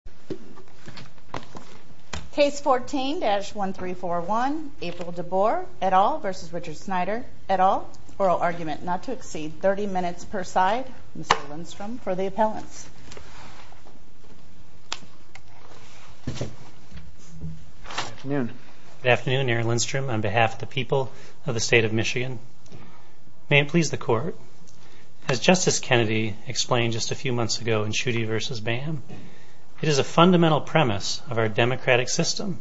oral argument not to exceed 30 minutes per side. Mr. Lindstrom, for the appellants. Good afternoon. Good afternoon, Mary Lindstrom. On behalf of the people of the state of Michigan, may it please the court, as Justice Kennedy explained just a few months ago in Schuette v. BAM, it is a fundamental premise of our democratic system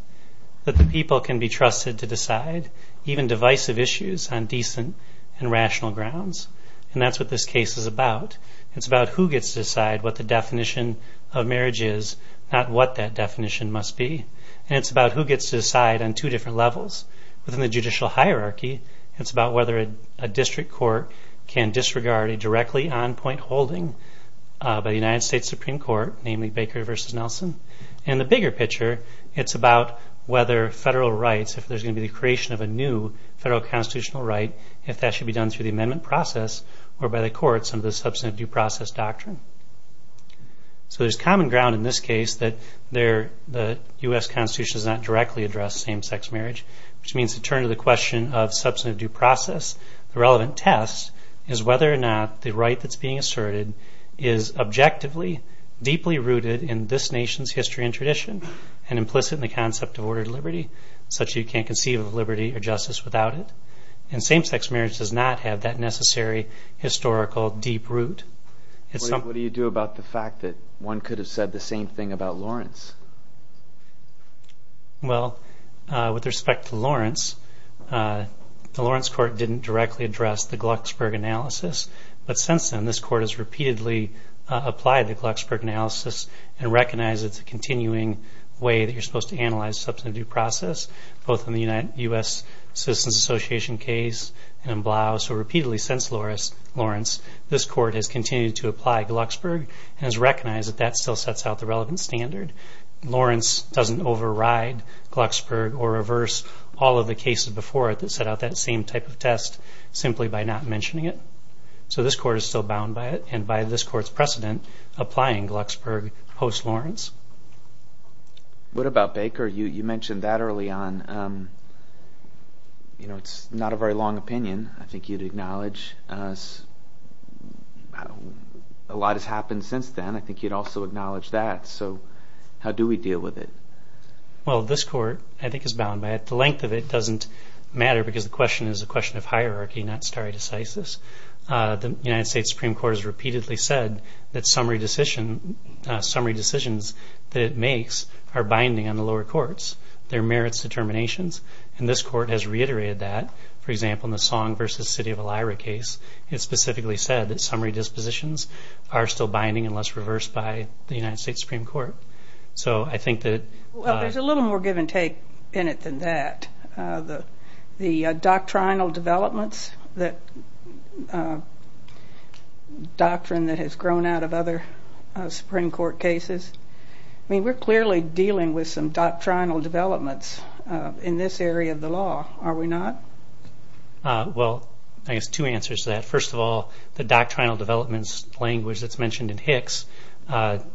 that the people can be trusted to decide even divisive issues on decent and rational grounds. And that's what this case is about. It's about who gets to decide what the definition of marriage is, not what that definition must be. And it's about who gets to decide on two different levels. Within the judicial hierarchy, it's about whether a district court can disregard a directly on-point holding by the United States Supreme Court, namely Baker v. Nelson. And the bigger picture, it's about whether federal rights, if there's going to be the creation of a new federal constitutional right, if that should be done through the amendment process or by the courts under the substantive due process doctrine. So there's common ground in this case that the U.S. Constitution does not directly address same-sex marriage, which means to turn to the question of substantive due process. The relevant test is whether or not the right that's being asserted is objectively, deeply rooted in this nation's history and tradition, and implicit in the concept of ordered liberty, such that you can't conceive of liberty or justice without it. And same-sex marriage does not have that necessary historical deep root. What do you do about the fact that one could have said the same thing about Lawrence? Well, with respect to Lawrence, the Lawrence court didn't directly address the Glucksberg analysis. But since then, this court has repeatedly applied the Glucksberg analysis and recognized it's a continuing way that you're supposed to analyze substantive due process, both in the U.S. Citizens Association case and in Blau. So repeatedly since Lawrence, this court has continued to apply Glucksberg and has recognized that that still sets out the relevant standard. Lawrence doesn't override Glucksberg or reverse all of the cases before it that set out that same type of test simply by not mentioning it. So this court is still bound by it and by this court's precedent applying Glucksberg post-Lawrence. What about Baker? You mentioned that early on. It's not a very long opinion, I think you'd acknowledge. A lot has happened since then. I think you'd also acknowledge that. So how do we deal with it? Well, this court, I think, is bound by it. The length of it doesn't matter because the question is a question of hierarchy, not stare decisis. The United States Supreme Court has repeatedly said that summary decisions that it makes are binding on the lower courts. There are merits determinations, and this court has reiterated that. For example, in the Song v. City of Elyra case, it specifically said that summary dispositions are still binding unless reversed by the United States Supreme Court. Well, there's a little more give and take in it than that. The doctrinal developments, the doctrine that has grown out of other Supreme Court cases, we're clearly dealing with some doctrinal developments in this area of the law, are we not? Well, I guess two answers to that. First of all, the doctrinal developments language that's mentioned in Hicks also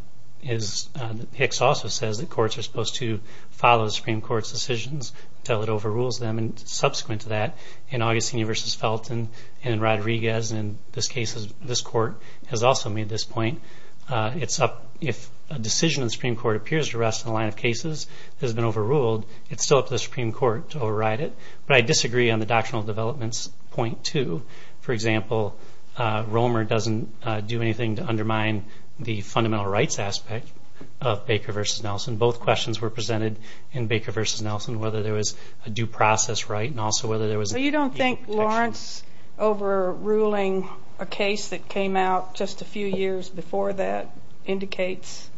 says that courts are supposed to follow the Supreme Court's decisions until it overrules them. Subsequent to that, in Augustini v. Felton and Rodriguez, this court has also made this point. It's up, if a decision in the Supreme Court appears to rest in the line of cases that has been overruled, it's still up to the Supreme Court to override it. But I disagree on the doctrinal developments point, too. For example, Romer doesn't do anything to undermine the fundamental rights aspect of Baker v. Nelson. Both questions were presented in Baker v. Nelson, whether there was a due process right and also whether there was a protection. So you don't think Lawrence overruling a case that came out just a few years before that indicates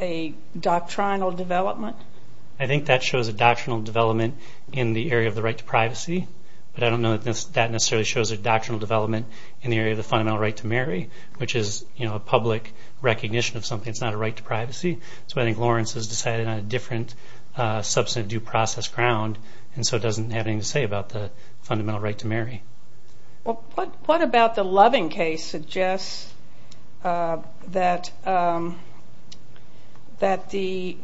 a doctrinal development? I think that shows a doctrinal development in the area of the right to privacy, but I don't know that that necessarily shows a doctrinal development in the area of the fundamental right to marry, which is a public recognition of something. It's not a right to privacy. So I think Lawrence has decided on a different substantive due process ground, and so it doesn't have anything to say about the fundamental right to marry. What about the Loving case suggests that the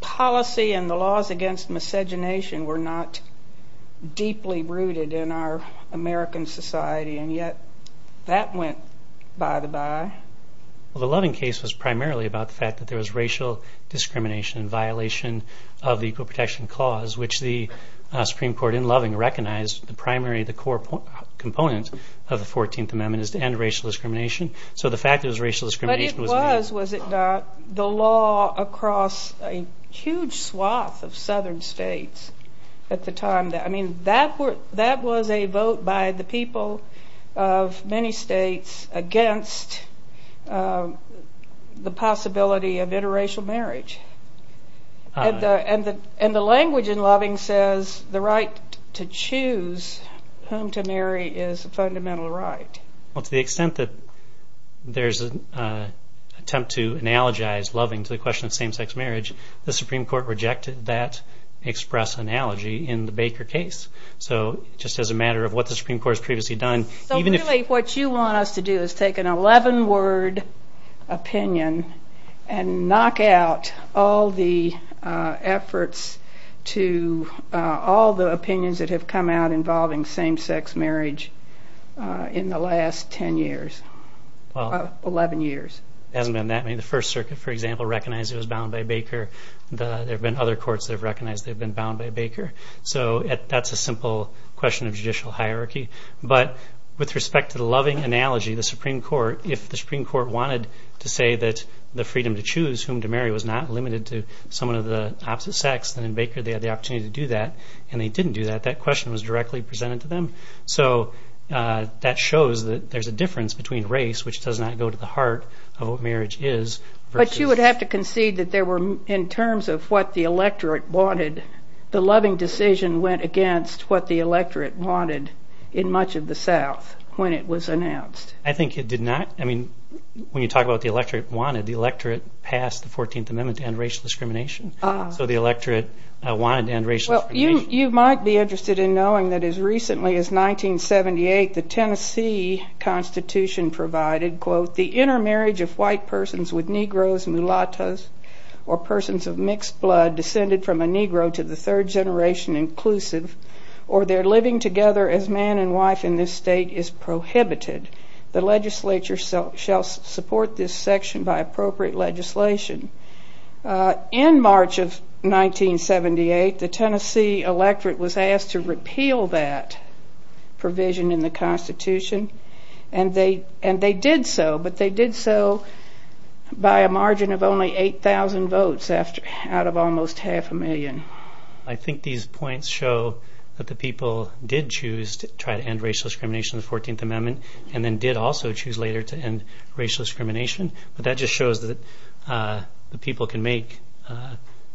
policy and the laws against miscegenation were not deeply rooted in our American society, and yet that went by the by? Well, the Loving case was primarily about the fact that there was racial discrimination and violation of the Equal Protection Clause, which the Supreme Court in Loving recognized the primary, the core component of the 14th Amendment is to end racial discrimination. So the fact that it was racial discrimination was... But it was, was it not, the law across a huge swath of southern states at the time. I mean, that was a vote by the people of many states against the possibility of interracial marriage. And the language in Loving says the right to choose whom to marry is a fundamental right. Well, to the extent that there's an attempt to analogize Loving to the question of same-sex marriage, the Supreme Court rejected that express analogy in the Baker case. So just as a matter of what the Supreme Court has previously done, even if... So really what you want us to do is take an 11-word opinion and knock out all the efforts to, all the opinions that have come out involving same-sex marriage in the last 10 years, 11 years. It hasn't been that many. The First Circuit, for example, recognized it was bound by Baker. There have been other courts that have recognized they've been bound by Baker. So that's a simple question of judicial hierarchy. But with respect to the Loving analogy, the Supreme Court, if the Supreme Court wanted to say that the freedom to choose whom to marry was not limited to someone of the opposite sex, then in Baker they had the opportunity to do that. And they didn't do that. That question was directly presented to them. So that shows that there's a difference between race, which does not go to the heart of what marriage is, versus... But you would have to concede that there were, in terms of what the electorate wanted, the Loving decision went against what the electorate wanted in much of the South when it was announced. I think it did not. I mean, when you talk about the electorate wanted, the electorate passed the 14th Amendment to end racial discrimination. So the electorate wanted to end racial discrimination. You might be interested in knowing that as recently as 1978, the Tennessee Constitution provided, quote, the intermarriage of white persons with Negroes, Mulattos, or persons of mixed blood descended from a Negro to the third generation inclusive, or their living together as man and wife in this state is prohibited. The legislature shall support this section by appropriate legislation. In March of 1978, the Tennessee electorate was asked to repeal that provision in the Constitution. And they did so, but they did so by a margin of only 8,000 votes out of almost half a million. I think these points show that the people did choose to try to end racial discrimination in the 14th Amendment and then did also choose later to end racial discrimination. But that just shows that the people can make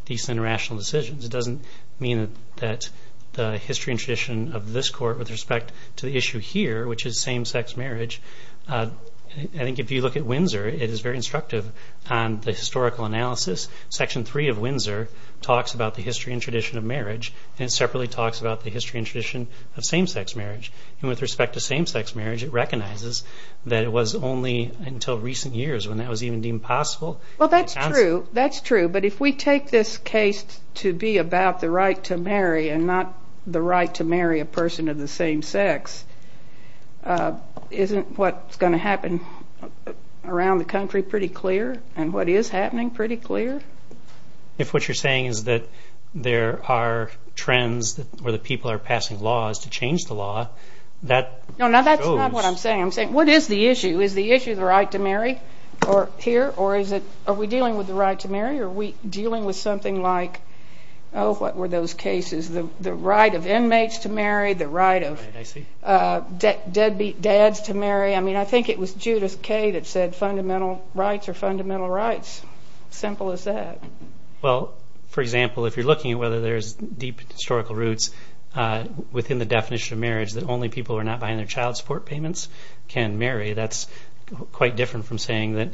decent and rational decisions. It doesn't mean that the history and tradition of this court with respect to the issue here, which is same-sex marriage, I think if you look at Windsor, it is very instructive on the historical analysis. Section 3 of Windsor talks about the history and tradition of marriage and separately talks about the history and tradition of same-sex marriage. And with respect to same-sex marriage, it recognizes that it was only until recent years when that was even deemed possible. Well, that's true. But if we take this case to be about the right to marry and not the right to marry a person of the same sex, isn't what's going to happen around the country pretty clear and what is happening pretty clear? If what you're saying is that there are trends where the people are passing laws to change the law, that shows... No, no, that's not what I'm saying. I'm saying what is the issue? Is the issue the right to marry here or are we dealing with the right to marry or are we dealing with something like, oh, what were those cases? The right of inmates to marry, the right of dads to marry. I mean, I think it was Judith Kaye that said fundamental rights are fundamental rights. Simple as that. Well, for example, if you're looking at whether there's deep historical roots within the definition of marriage that only people who are not behind their child support payments can marry, that's quite different from saying that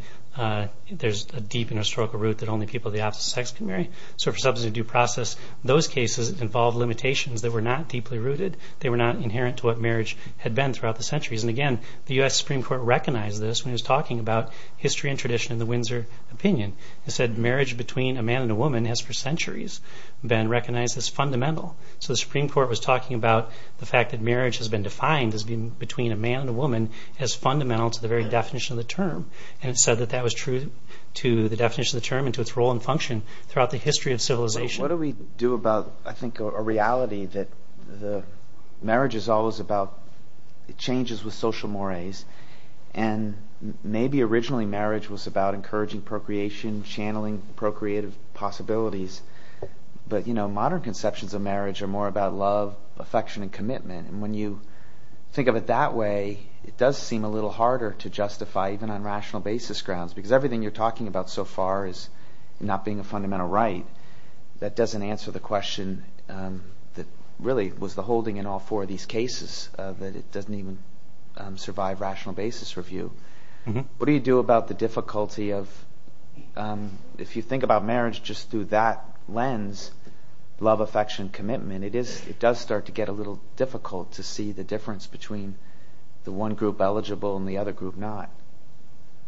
there's a deep and historical root that only people of the opposite sex can marry. So for substance of due process, those cases involved limitations that were not deeply rooted. They were not inherent to what marriage had been throughout the centuries. And again, the U.S. Supreme Court recognized this when it was talking about history and tradition in the Windsor opinion. It said marriage between a man and a woman has for centuries been recognized as fundamental. So the Supreme Court was talking about the fact that marriage has been defined as being between a man and a woman as fundamental to the very definition of the term. And it said that that was true to the definition of the term and to its role and function throughout the history of civilization. What do we do about, I think, a reality that marriage is always about changes with social mores. And maybe originally marriage was about encouraging procreation, channeling procreative possibilities. But modern conceptions of marriage are more about love, affection, and commitment. And when you think of it that way, it does seem a little harder to justify even on rational basis grounds because everything you're talking about so far is not being a fundamental right. That doesn't answer the question that really was the holding in all four of these cases, that it doesn't even survive rational basis review. What do you do about the difficulty of, if you think about marriage just through that lens, love, affection, commitment, it does start to get a little difficult to see the difference between the one group eligible and the other group not.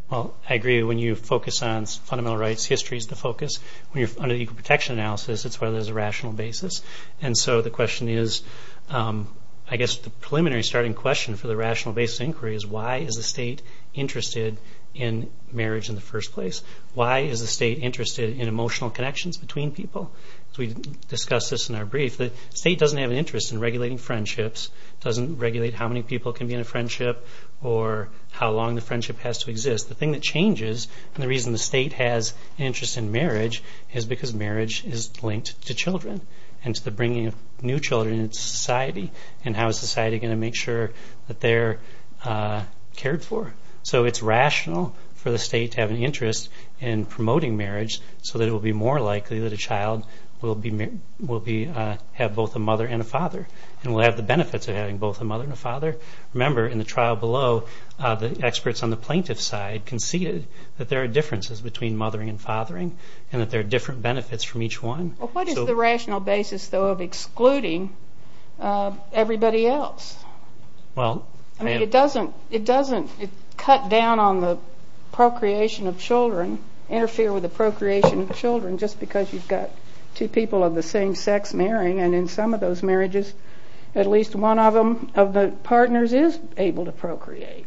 Well, I agree. When you focus on fundamental rights, history is the focus. When you're under the equal protection analysis, it's whether there's a rational basis. And so the question is, I guess the preliminary starting question for the rational basis inquiry is, why is the state interested in marriage in the first place? Why is the state interested in emotional connections between people? As we discussed this in our brief, the state doesn't have an interest in regulating friendships, doesn't regulate how many people can be in a friendship or how long the friendship has to exist. The thing that changes, and the reason the state has an interest in marriage, is because marriage is linked to children and to the bringing of new children into society and how is society going to make sure that they're cared for. So it's rational for the state to have an interest in promoting marriage so that it will be more likely that a child will have both a mother and a father and will have the benefits of having both a mother and a father. Remember, in the trial below, the experts on the plaintiff's side conceded that there are differences between mothering and fathering and that there are different benefits from each one. What is the rational basis, though, of excluding everybody else? It doesn't cut down on the procreation of children, interfere with the procreation of children, just because you've got two people of the same sex marrying, and in some of those marriages at least one of the partners is able to procreate.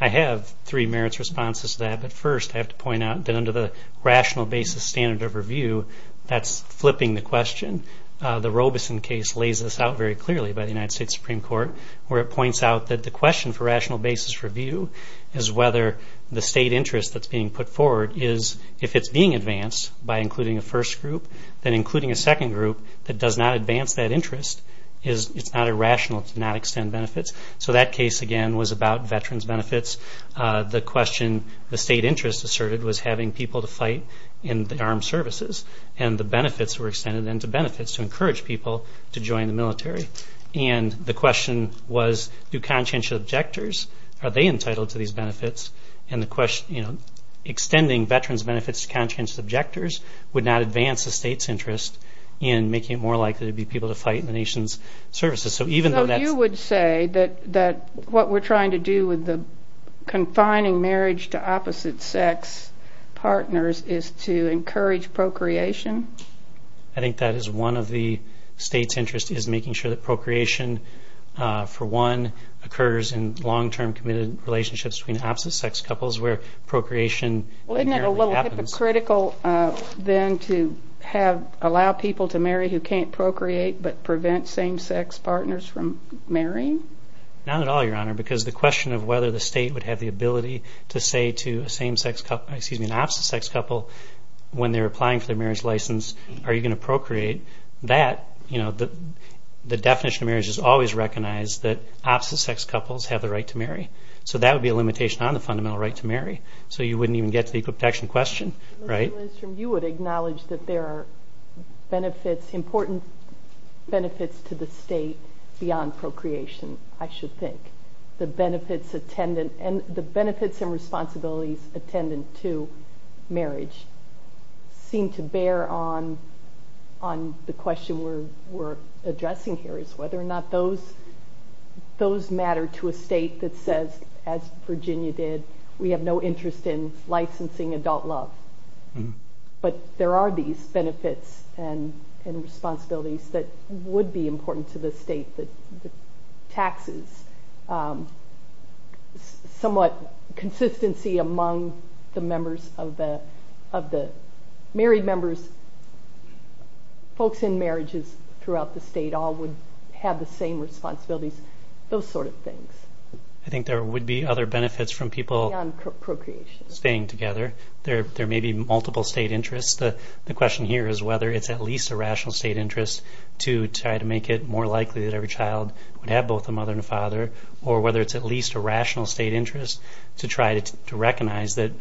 I have three merits responses to that, but first I have to point out that under the rational basis standard of review, that's flipping the question. The Robeson case lays this out very clearly by the United States Supreme Court where it points out that the question for rational basis review is whether the state interest that's being put forward is, if it's being advanced by including a first group, then including a second group that does not advance that interest, it's not irrational to not extend benefits. So that case, again, was about veterans' benefits. The question the state interest asserted was having people to fight in the armed services, and the benefits were extended into benefits to encourage people to join the military. And the question was, do conscientious objectors, are they entitled to these benefits? Extending veterans' benefits to conscientious objectors would not advance the state's interest in making it more likely to be people to fight in the nation's services. So you would say that what we're trying to do with the confining marriage to opposite sex partners is to encourage procreation? I think that is one of the state's interests is making sure that procreation, for one, occurs in long-term committed relationships between opposite-sex couples where procreation apparently happens. Well, isn't it a little hypocritical then to allow people to marry who can't procreate but prevent same-sex partners from marrying? Not at all, Your Honor, because the question of whether the state would have the ability to say to an opposite-sex couple when they're applying for their marriage license, are you going to procreate, the definition of marriage has always recognized that opposite-sex couples have the right to marry. So that would be a limitation on the fundamental right to marry. So you wouldn't even get to the equal protection question, right? Mr. Lindstrom, you would acknowledge that there are benefits, important benefits to the state beyond procreation, I should think. The benefits and responsibilities attendant to marriage seem to bear on the question we're addressing here is whether or not those matter to a state that says, as Virginia did, we have no interest in licensing adult love. But there are these benefits and responsibilities that would be important to the state. The taxes, somewhat consistency among the members of the married members, folks in marriages throughout the state all would have the same responsibilities, those sort of things. I think there would be other benefits from people staying together. There may be multiple state interests. The question here is whether it's at least a rational state interest to try to make it more likely that every child would have both a mother and a father, or whether it's at least a rational state interest to try to recognize that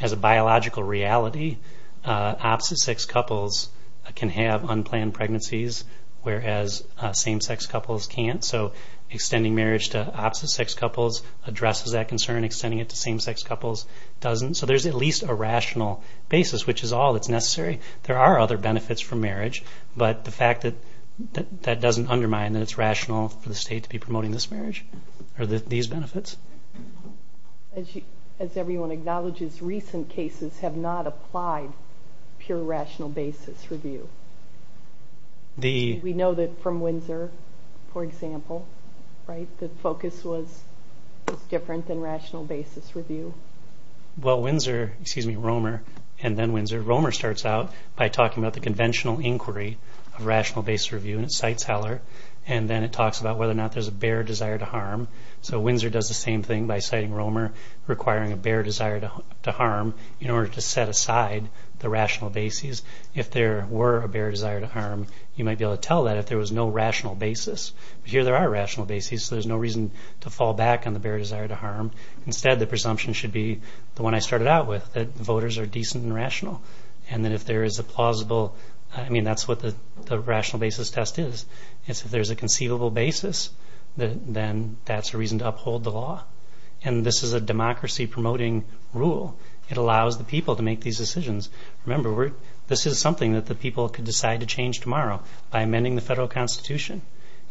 as a biological reality, opposite-sex couples can have unplanned pregnancies, whereas same-sex couples can't. So extending marriage to opposite-sex couples addresses that concern. Extending it to same-sex couples doesn't. So there's at least a rational basis, which is all that's necessary. There are other benefits from marriage, but the fact that that doesn't undermine that it's rational for the state to be promoting this marriage are these benefits. As everyone acknowledges, recent cases have not applied pure rational basis review. We know that from Windsor, for example, the focus was different than rational basis review. Well, Windsor, excuse me, Romer, and then Windsor, Romer starts out by talking about the conventional inquiry of rational basis review, and it cites Heller, and then it talks about whether or not there's a bare desire to harm. So Windsor does the same thing by citing Romer, requiring a bare desire to harm in order to set aside the rational basis. If there were a bare desire to harm, you might be able to tell that if there was no rational basis. But here there are rational basis, so there's no reason to fall back on the bare desire to harm. Instead, the presumption should be the one I started out with, that voters are decent and rational, and that if there is a plausible, I mean, that's what the rational basis test is. If there's a conceivable basis, then that's a reason to uphold the law. And this is a democracy-promoting rule. It allows the people to make these decisions. Remember, this is something that the people could decide to change tomorrow by amending the federal constitution.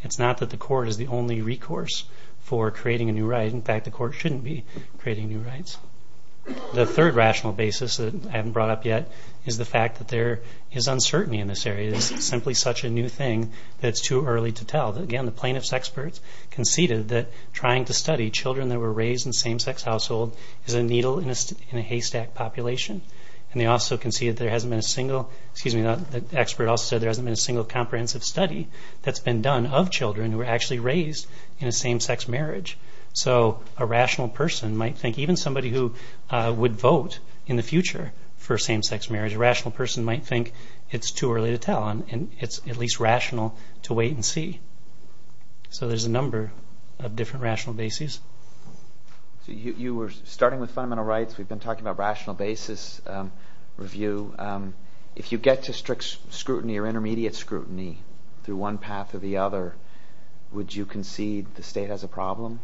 It's not that the court is the only recourse for creating a new right. In fact, the court shouldn't be creating new rights. The third rational basis that I haven't brought up yet is the fact that there is uncertainty in this area. It's simply such a new thing that it's too early to tell. Again, the plaintiff's experts conceded that trying to study children that were raised in same-sex households is a needle in a haystack population. And they also conceded there hasn't been a single comprehensive study that's been done of children who were actually raised in a same-sex marriage. So a rational person might think, even somebody who would vote in the future for same-sex marriage, a rational person might think it's too early to tell. And it's at least rational to wait and see. So there's a number of different rational bases. So you were starting with fundamental rights. We've been talking about rational basis review. If you get to strict scrutiny or intermediate scrutiny through one path or the other, would you concede the state has a problem?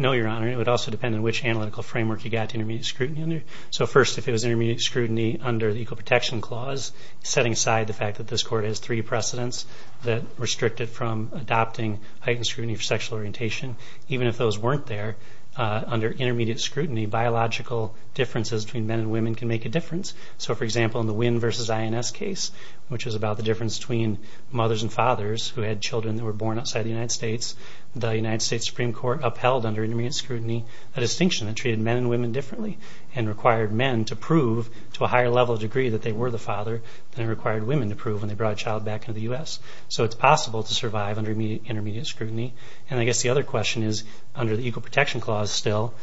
No, Your Honor. It would also depend on which analytical framework you got to intermediate scrutiny under. So first, if it was intermediate scrutiny under the Equal Protection Clause, setting aside the fact that this court has three precedents that restrict it from adopting heightened scrutiny for sexual orientation, even if those weren't there, under intermediate scrutiny, biological differences between men and women can make a difference. So, for example, in the Wynn v. INS case, which is about the difference between mothers and fathers who had children that were born outside the United States, the United States Supreme Court upheld under intermediate scrutiny a distinction that treated men and women differently and required men to prove to a higher level degree that they were the father than it required women to prove when they brought a child back into the U.S. So it's possible to survive under intermediate scrutiny. And I guess the other question is, under the Equal Protection Clause still,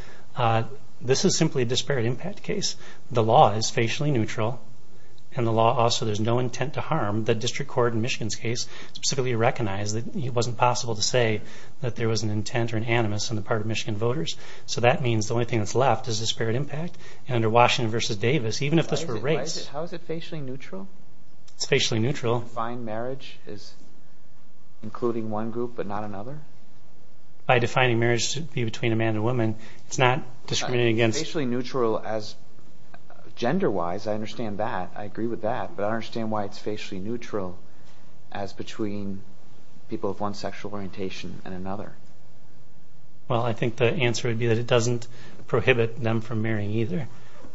this is simply a disparate impact case. The law is facially neutral, and also there's no intent to harm. The District Court in Michigan's case specifically recognized that it wasn't possible to say that there was an intent or an animus on the part of Michigan voters. So that means the only thing that's left is disparate impact. And under Washington v. Davis, even if this were a race... How is it facially neutral? It's facially neutral. To define marriage as including one group but not another? By defining marriage to be between a man and a woman, it's not discriminating against... It's facially neutral as gender-wise. I understand that. I agree with that. But I don't understand why it's facially neutral as between people of one sexual orientation and another. Well, I think the answer would be that it doesn't prohibit them from marrying either.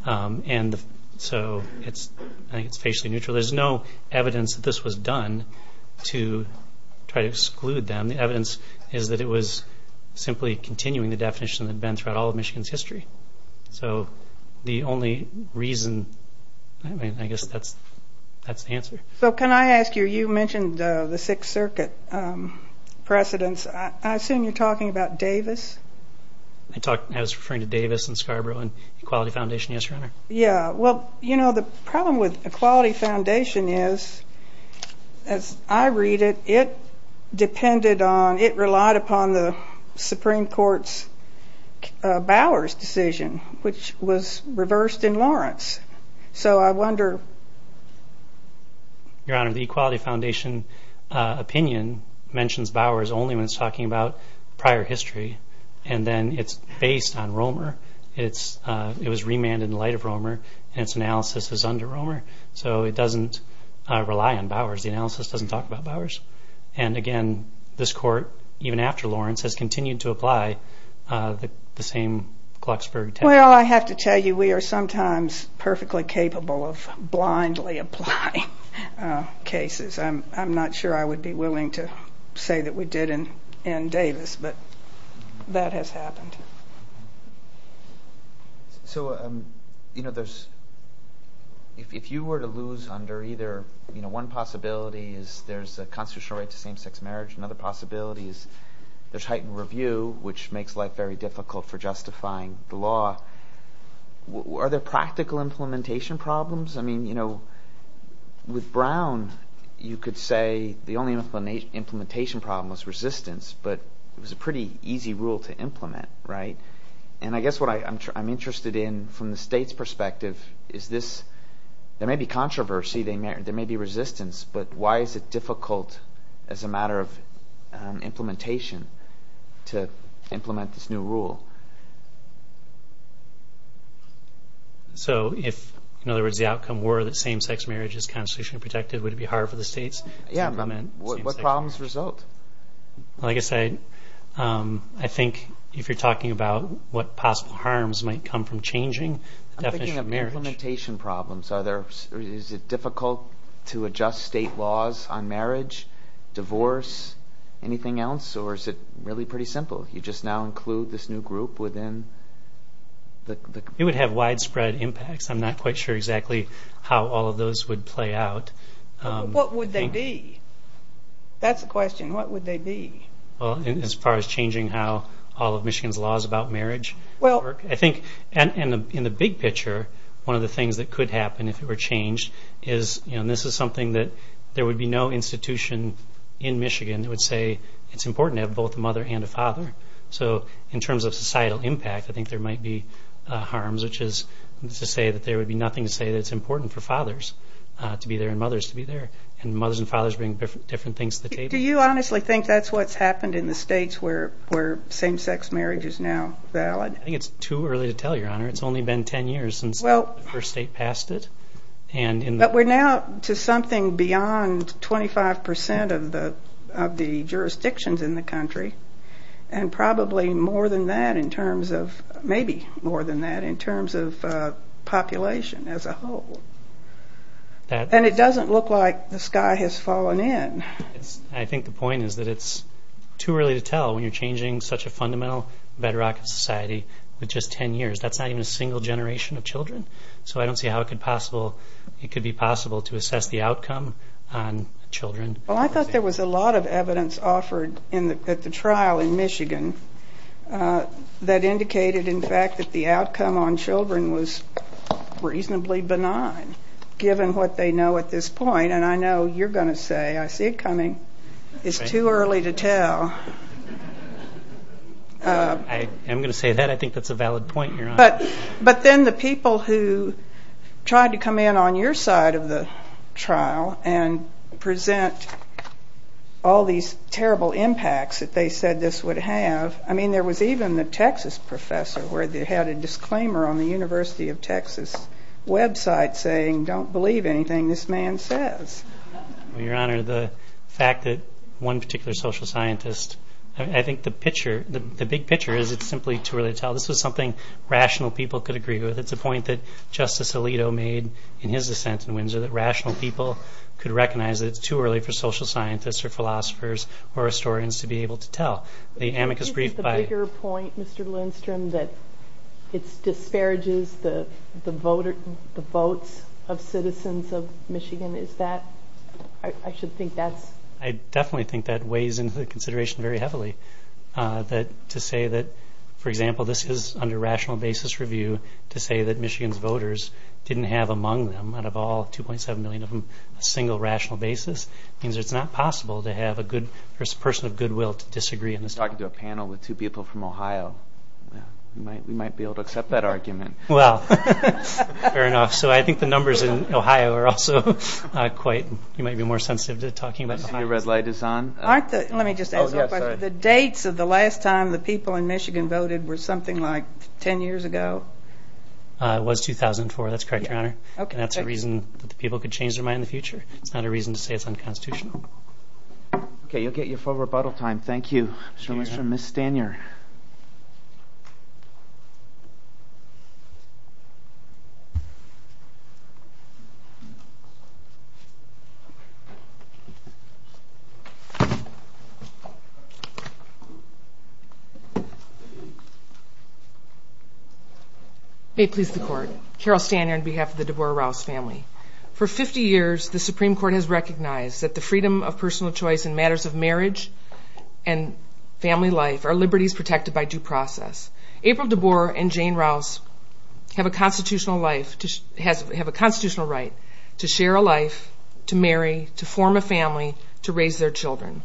And so I think it's facially neutral. There's no evidence that this was done to try to exclude them. And the evidence is that it was simply continuing the definition that had been throughout all of Michigan's history. So the only reason, I mean, I guess that's the answer. So can I ask you, you mentioned the Sixth Circuit precedents. I assume you're talking about Davis? I was referring to Davis and Scarborough and Equality Foundation, yes, Your Honor. Yeah, well, you know, the problem with Equality Foundation is, as I read it, it depended on, it relied upon the Supreme Court's Bowers decision, which was reversed in Lawrence. So I wonder... Your Honor, the Equality Foundation opinion mentions Bowers only when it's talking about prior history. And then it's based on Romer. It was remanded in light of Romer, and its analysis is under Romer. So it doesn't rely on Bowers. The analysis doesn't talk about Bowers. And, again, this court, even after Lawrence, has continued to apply the same Glucksberg technique. Well, I have to tell you, we are sometimes perfectly capable of blindly applying cases. I'm not sure I would be willing to say that we did in Davis, but that has happened. So, you know, there's... If you were to lose under either, you know, one possibility is there's a constitutional right to same-sex marriage. Another possibility is there's heightened review, which makes life very difficult for justifying the law. Are there practical implementation problems? I mean, you know, with Brown, you could say the only implementation problem was resistance, but it was a pretty easy rule to implement, right? And I guess what I'm interested in, from the state's perspective, is this... There may be controversy, there may be resistance, but why is it difficult, as a matter of implementation, to implement this new rule? So if, in other words, the outcome were that same-sex marriage is constitutionally protected, would it be hard for the states to implement same-sex marriage? Yeah, but what problems result? Like I said, I think if you're talking about what possible harms might come from changing the definition of marriage... I'm thinking of implementation problems. Are there... Is it difficult to adjust state laws on marriage, divorce, anything else, or is it really pretty simple? You just now include this new group within the... It would have widespread impacts. I'm not quite sure exactly how all of those would play out. What would they be? That's the question. What would they be? Well, as far as changing how all of Michigan's laws about marriage work, I think in the big picture, one of the things that could happen if it were changed is this is something that there would be no institution in Michigan that would say it's important to have both a mother and a father. So in terms of societal impact, I think there might be harms, which is to say that there would be nothing to say that it's important for fathers to be there and mothers to be there, and mothers and fathers bringing different things to the table. Do you honestly think that's what's happened in the states where same-sex marriage is now valid? I think it's too early to tell, Your Honor. It's only been 10 years since the first state passed it. But we're now to something beyond 25% of the jurisdictions in the country, and probably more than that in terms of... maybe more than that in terms of population as a whole. And it doesn't look like the sky has fallen in. I think the point is that it's too early to tell when you're changing such a fundamental bedrock of society with just 10 years. That's not even a single generation of children. So I don't see how it could be possible to assess the outcome on children. Well, I thought there was a lot of evidence offered at the trial in Michigan that indicated, in fact, that the outcome on children was reasonably benign, given what they know at this point. And I know you're going to say, I see it coming, it's too early to tell. I am going to say that. I think that's a valid point, Your Honor. But then the people who tried to come in on your side of the trial and present all these terrible impacts that they said this would have, I mean, there was even the Texas professor where they had a disclaimer on the University of Texas website saying, don't believe anything this man says. Well, Your Honor, the fact that one particular social scientist... I think the big picture is it's simply too early to tell. This was something rational people could agree with. It's too early for social scientists or philosophers or historians to be able to tell. The amicus brief by... Isn't the bigger point, Mr. Lindstrom, that it disparages the votes of citizens of Michigan? I should think that's... I definitely think that weighs into the consideration very heavily. To say that, for example, this is under rational basis review to say that Michigan's voters didn't have among them, out of all 2.7 million of them, a single rational basis means it's not possible to have a person of goodwill to disagree in this. You're talking to a panel with two people from Ohio. We might be able to accept that argument. Well, fair enough. So I think the numbers in Ohio are also quite... You might be more sensitive to talking about Ohio. Your red light is on. Aren't the... Let me just ask one question. The dates of the last time the people in Michigan voted were something like 10 years ago? It was 2004. That's correct, Your Honor. That's a reason that the people could change their mind in the future. It's not a reason to say it's unconstitutional. Okay, you'll get your full rebuttal time. Thank you. The next one is from Ms. Stanier. May it please the Court. Carol Stanier on behalf of the DeBoer-Rouse family. For 50 years, the Supreme Court has recognized that the freedom of personal choice in matters of marriage and family life are liberties protected by due process. April DeBoer and Jane Rouse have a constitutional right to share a life, to marry, to form a family, to raise their children.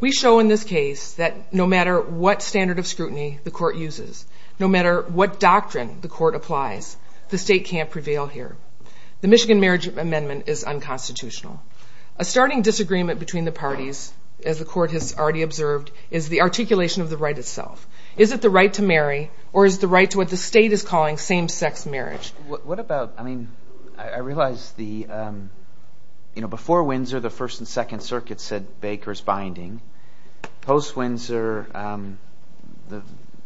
We show in this case that no matter what standard of scrutiny the Court uses, no matter what doctrine the Court applies, the state can't prevail here. The Michigan Marriage Amendment is unconstitutional. A starting disagreement between the parties, as the Court has already observed, is the articulation of the right itself. Is it the right to marry, or is it the right to what the state is calling same-sex marriage? What about, I mean, I realize the, you know, before Windsor the First and Second Circuits said Baker's binding. Post-Windsor,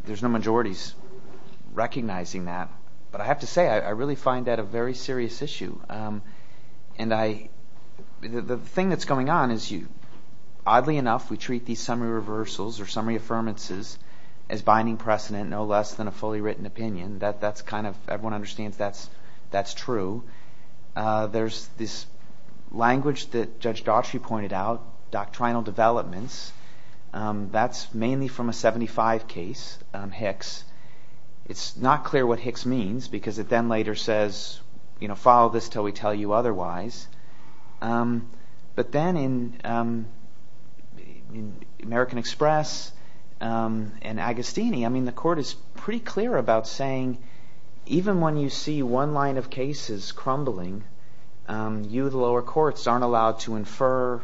there's no majorities recognizing that. But I have to say, I really find that a very serious issue. And I, the thing that's going on is you, oddly enough, we treat these summary reversals or summary affirmances as binding precedent, no less than a fully written opinion. That's kind of, everyone understands that's true. There's this language that Judge Daughtry pointed out, doctrinal developments. That's mainly from a 75 case, Hicks. It's not clear what Hicks means because it then later says, you know, follow this until we tell you otherwise. But then in American Express and Agostini, I mean, the Court is pretty clear about saying even when you see one line of cases crumbling, you, the lower courts, aren't allowed to infer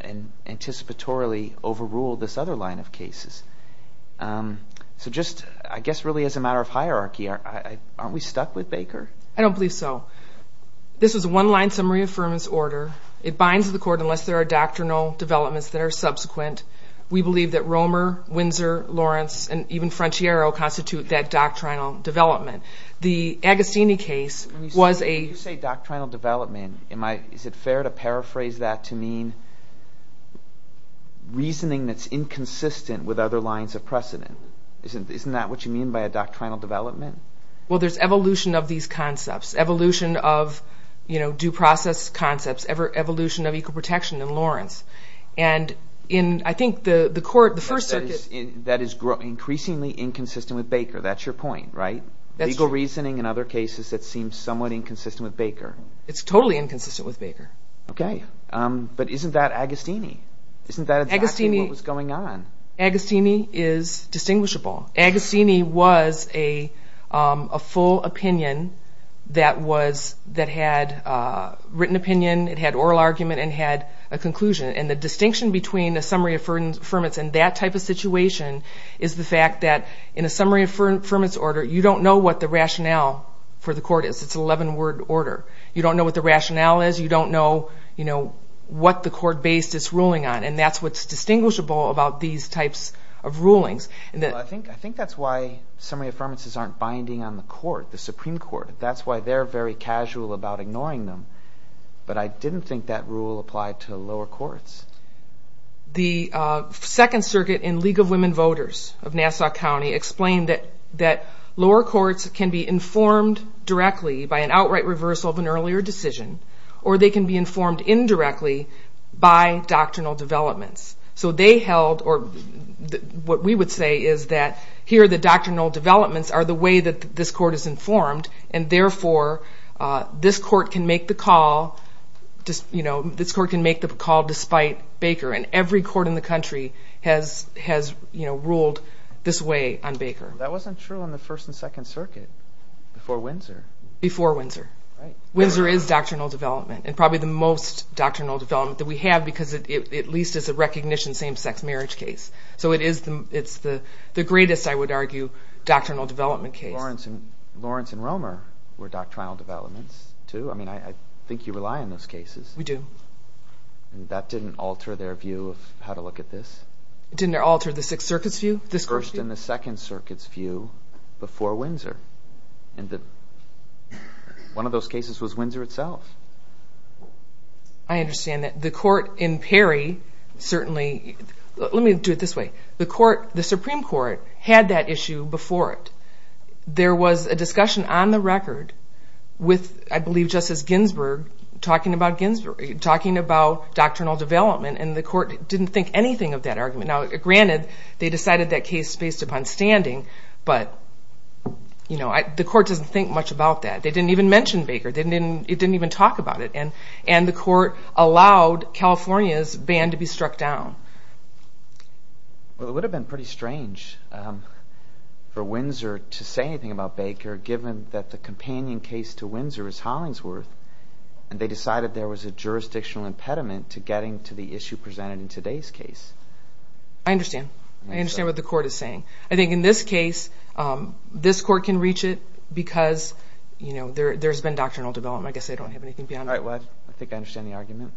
and anticipatorily overrule this other line of cases. So just, I guess, really as a matter of hierarchy, aren't we stuck with Baker? I don't believe so. This is a one-line summary affirmance order. It binds the Court unless there are doctrinal developments that are subsequent. We believe that Romer, Windsor, Lawrence, and even Frontiero constitute that doctrinal development. The Agostini case was a... When you say doctrinal development, is it fair to paraphrase that to mean reasoning that's inconsistent with other lines of precedent? Isn't that what you mean by a doctrinal development? Well, there's evolution of these concepts, evolution of due process concepts, evolution of equal protection in Lawrence. And I think the Court, the First Circuit... That is increasingly inconsistent with Baker. That's your point, right? Legal reasoning and other cases that seem somewhat inconsistent with Baker. It's totally inconsistent with Baker. Okay, but isn't that Agostini? Isn't that exactly what was going on? Agostini is distinguishable. Agostini was a full opinion that had written opinion, it had oral argument, and it had a conclusion. And the distinction between a summary affirmance and that type of situation is the fact that in a summary affirmance order, you don't know what the rationale for the Court is. It's an 11-word order. You don't know what the rationale is. You don't know what the Court-based it's ruling on. And that's what's distinguishable about these types of rulings. I think that's why summary affirmances aren't binding on the Court, the Supreme Court. That's why they're very casual about ignoring them. But I didn't think that rule applied to lower courts. The Second Circuit in League of Women Voters of Nassau County explained that lower courts can be informed directly by an outright reversal of an earlier decision, or they can be informed indirectly by doctrinal developments. So they held, or what we would say, is that here the doctrinal developments are the way that this Court is informed, and therefore this Court can make the call, you know, this Court can make the call despite Baker. And every court in the country has ruled this way on Baker. That wasn't true in the First and Second Circuit, before Windsor. Before Windsor. Windsor is doctrinal development, and probably the most doctrinal development that we have, because it at least is a recognition same-sex marriage case. So it's the greatest, I would argue, doctrinal development case. Lawrence and Romer were doctrinal developments, too. I mean, I think you rely on those cases. We do. And that didn't alter their view of how to look at this? It didn't alter the Sixth Circuit's view? The First and the Second Circuit's view before Windsor. One of those cases was Windsor itself. I understand that. The Court in Perry certainly... Let me do it this way. The Supreme Court had that issue before it. There was a discussion on the record with, I believe, Justice Ginsburg talking about doctrinal development, and the Court didn't think anything of that argument. Now, granted, they decided that case based upon standing, but the Court doesn't think much about that. They didn't even mention Baker. It didn't even talk about it. And the Court allowed California's ban to be struck down. Well, it would have been pretty strange for Windsor to say anything about Baker, given that the companion case to Windsor is Hollingsworth, and they decided there was a jurisdictional impediment to getting to the issue presented in today's case. I understand. I understand what the Court is saying. I think in this case, this Court can reach it because there's been doctrinal development. I guess I don't have anything beyond that. I think I understand the argument.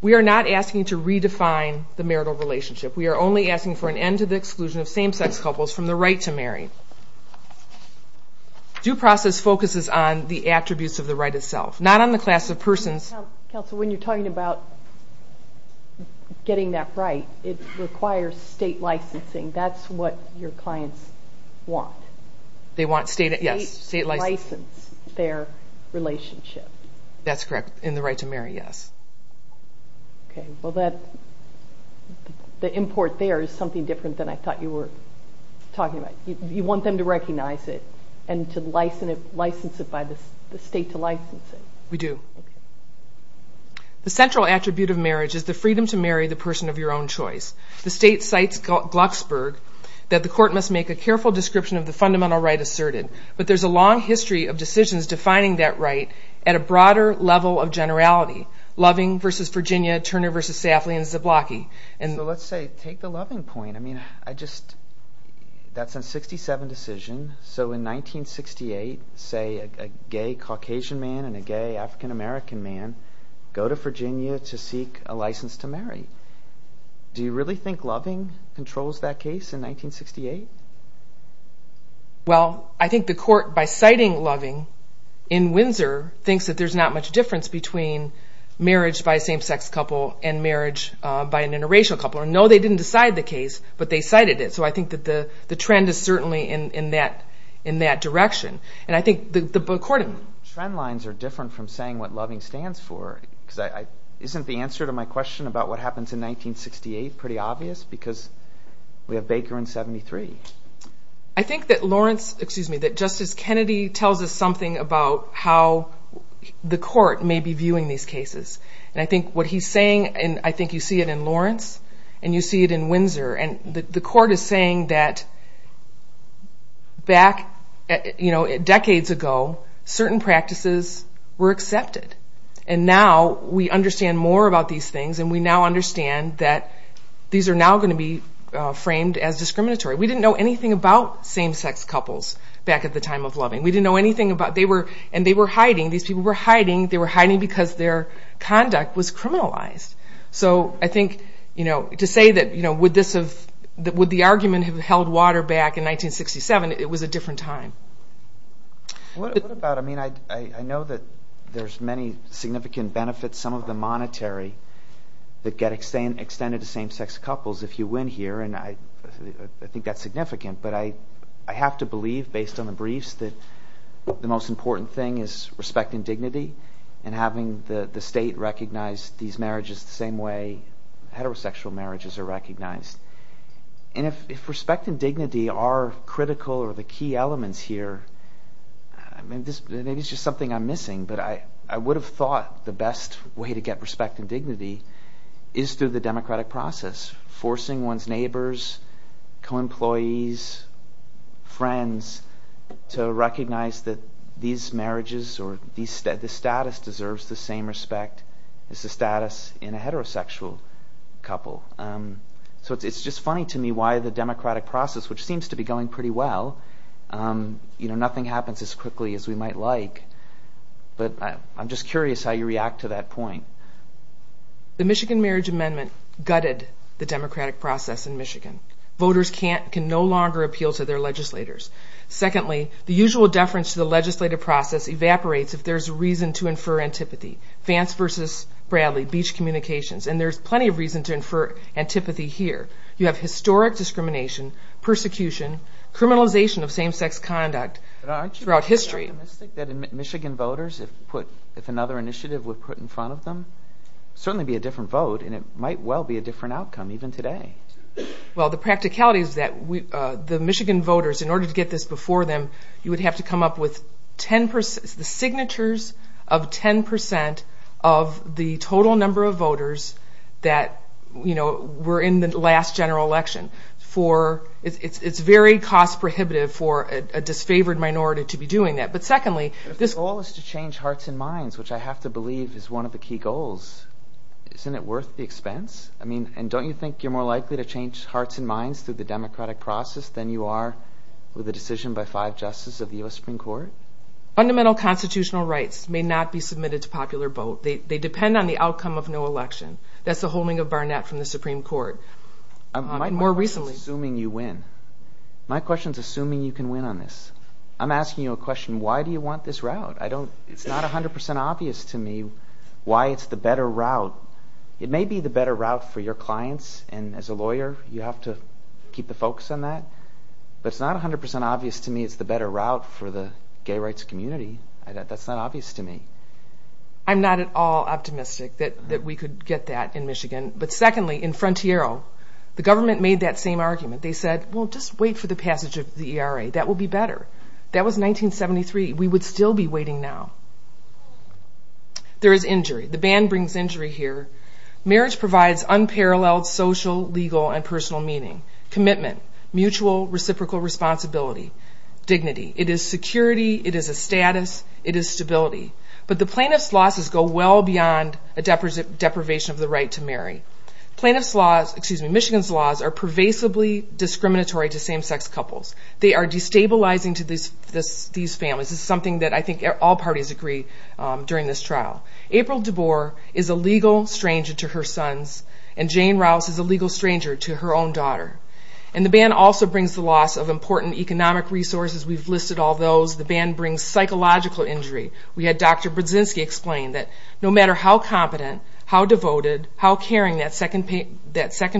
We are not asking to redefine the marital relationship. We are only asking for an end to the exclusion of same-sex couples from the right to marry. Due process focuses on the attributes of the right itself, not on the class of persons. Counsel, when you're talking about getting that right, it requires state licensing. That's what your clients want. They want state, yes. State license their relationship. That's correct. And the right to marry, yes. Okay. Well, the import there is something different than I thought you were talking about. You want them to recognize it and to license it by the state to license it. We do. The central attribute of marriage is the freedom to marry the person of your own choice. The state cites Glucksberg that the Court must make a careful description of the fundamental right asserted. But there's a long history of decisions defining that right at a broader level of generality, Loving v. Virginia, Turner v. Safley, and Zablocki. So let's say, take the Loving point. I mean, that's a 1967 decision. So in 1968, say, a gay Caucasian man and a gay African American man go to Virginia to seek a license to marry. Do you really think Loving controls that case in 1968? Well, I think the Court, by citing Loving in Windsor, thinks that there's not much difference between marriage by a same-sex couple and marriage by an interracial couple. No, they didn't decide the case, but they cited it. So I think that the trend is certainly in that direction. And I think the Court... Trend lines are different from saying what Loving stands for. Isn't the answer to my question about what happens in 1968 pretty obvious? Because we have Baker in 73. I think that Justice Kennedy tells us something about how the Court may be viewing these cases. And I think what he's saying, and I think you see it in Lawrence, and you see it in Windsor, and the Court is saying that back decades ago, certain practices were accepted. And now we understand more about these things, and we now understand that these are now going to be framed as discriminatory. We didn't know anything about same-sex couples back at the time of Loving. We didn't know anything about... And they were hiding. These people were hiding. They were hiding because their conduct was criminalized. So I think to say that would this have... Would the argument have held water back in 1967? It was a different time. What about... I mean, I know that there's many significant benefits, some of them monetary, that get extended to same-sex couples if you win here, and I think that's significant. But I have to believe, based on the briefs, that the most important thing is respecting dignity and having the state recognize these marriages the same way heterosexual marriages are recognized. And if respect and dignity are critical or the key elements here, maybe it's just something I'm missing, but I would have thought the best way to get respect and dignity is through the democratic process, forcing one's neighbors, co-employees, friends to recognize that these marriages or the status deserves the same respect as the status in a heterosexual couple. So it's just funny to me why the democratic process, which seems to be going pretty well, nothing happens as quickly as we might like. But I'm just curious how you react to that point. The Michigan Marriage Amendment gutted the democratic process in Michigan. Voters can no longer appeal to their legislators. Secondly, the usual deference to the legislative process evaporates if there's reason to infer antipathy. Vance v. Bradley, beach communications, and there's plenty of reason to infer antipathy here. You have historic discrimination, persecution, criminalization of same-sex conduct throughout history. But aren't you optimistic that Michigan voters, if another initiative were put in front of them, it would certainly be a different vote, and it might well be a different outcome even today. Well, the practicality is that the Michigan voters, in order to get this before them, you would have to come up with the signatures of 10% of the total number of voters that were in the last general election. It's very cost-prohibitive for a disfavored minority to be doing that. But secondly... The goal is to change hearts and minds, which I have to believe is one of the key goals. Isn't it worth the expense? I mean, and don't you think you're more likely to change hearts and minds through the democratic process than you are with a decision by five justices of the U.S. Supreme Court? Fundamental constitutional rights may not be submitted to popular vote. They depend on the outcome of no election. That's the holding of Barnett from the Supreme Court. My question is assuming you win. My question is assuming you can win on this. I'm asking you a question. Why do you want this route? It's not 100% obvious to me why it's the better route. It may be the better route for your clients, and as a lawyer you have to keep the focus on that. But it's not 100% obvious to me it's the better route for the gay rights community. That's not obvious to me. I'm not at all optimistic that we could get that in Michigan. But secondly, in Frontiero, the government made that same argument. They said, well, just wait for the passage of the ERA. That will be better. That was 1973. We would still be waiting now. There is injury. The ban brings injury here. Marriage provides unparalleled social, legal, and personal meaning. Commitment. Mutual reciprocal responsibility. Dignity. It is security. It is a status. It is stability. But the plaintiff's losses go well beyond a deprivation of the right to marry. Michigan's laws are pervasively discriminatory to same-sex couples. They are destabilizing to these families. This is something that I think all parties agree during this trial. April DeBoer is a legal stranger to her sons, and Jane Rouse is a legal stranger to her own daughter. And the ban also brings the loss of important economic resources. We've listed all those. The ban brings psychological injury. We had Dr. Brzezinski explain that no matter how competent, how devoted, how caring that second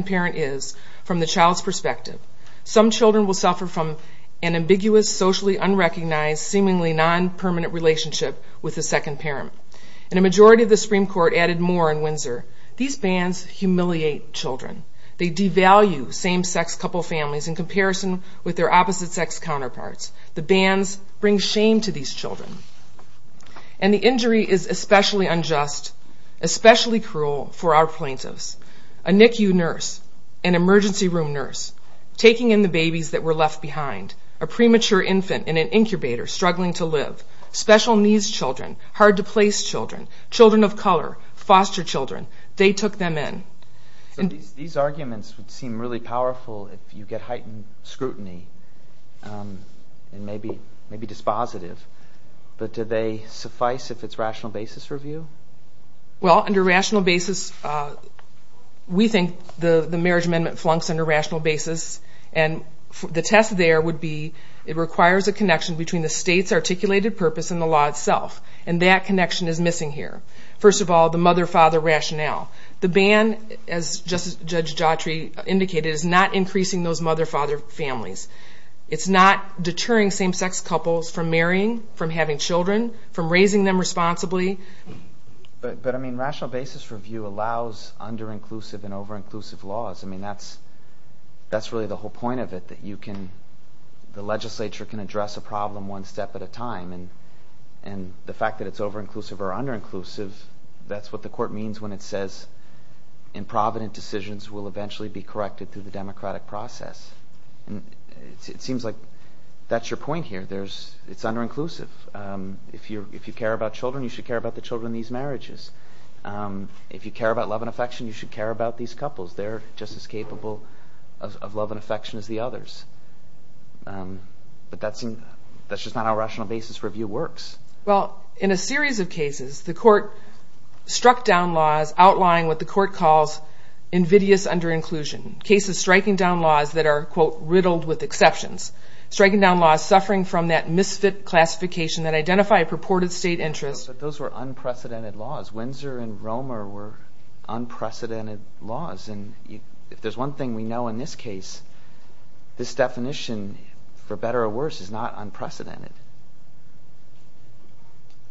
parent is from the child's perspective, some children will suffer from an ambiguous, socially unrecognized, seemingly non-permanent relationship with the second parent. And a majority of the Supreme Court added more in Windsor, these bans humiliate children. They devalue same-sex couple families in comparison with their opposite-sex counterparts. The bans bring shame to these children. And the injury is especially unjust, especially cruel for our plaintiffs. A NICU nurse, an emergency room nurse, taking in the babies that were left behind, a premature infant in an incubator struggling to live, special needs children, hard-to-place children, children of color, foster children, they took them in. These arguments would seem really powerful if you get heightened scrutiny and maybe dispositive, but do they suffice if it's rational basis review? Well, under rational basis, we think the Marriage Amendment flunks under rational basis, and the test there would be it requires a connection between the state's articulated purpose and the law itself. And that connection is missing here. First of all, the mother-father rationale. The ban, as Judge Jotri indicated, is not increasing those mother-father families. It's not deterring same-sex couples from marrying, from having children, from raising them responsibly. But, I mean, rational basis review allows under-inclusive and over-inclusive laws. I mean, that's really the whole point of it, that the legislature can address a problem one step at a time, and the fact that it's over-inclusive or under-inclusive, that's what the court means when it says improvident decisions will eventually be corrected through the democratic process. It seems like that's your point here. It's under-inclusive. If you care about children, you should care about the children in these marriages. If you care about love and affection, you should care about these couples. They're just as capable of love and affection as the others. But that's just not how rational basis review works. Well, in a series of cases, the court struck down laws outlying what the court calls invidious under-inclusion, cases striking down laws that are, quote, riddled with exceptions, striking down laws suffering from that misfit classification that identify a purported state interest. But those were unprecedented laws. Windsor and Romer were unprecedented laws. And if there's one thing we know in this case, this definition, for better or worse, is not unprecedented.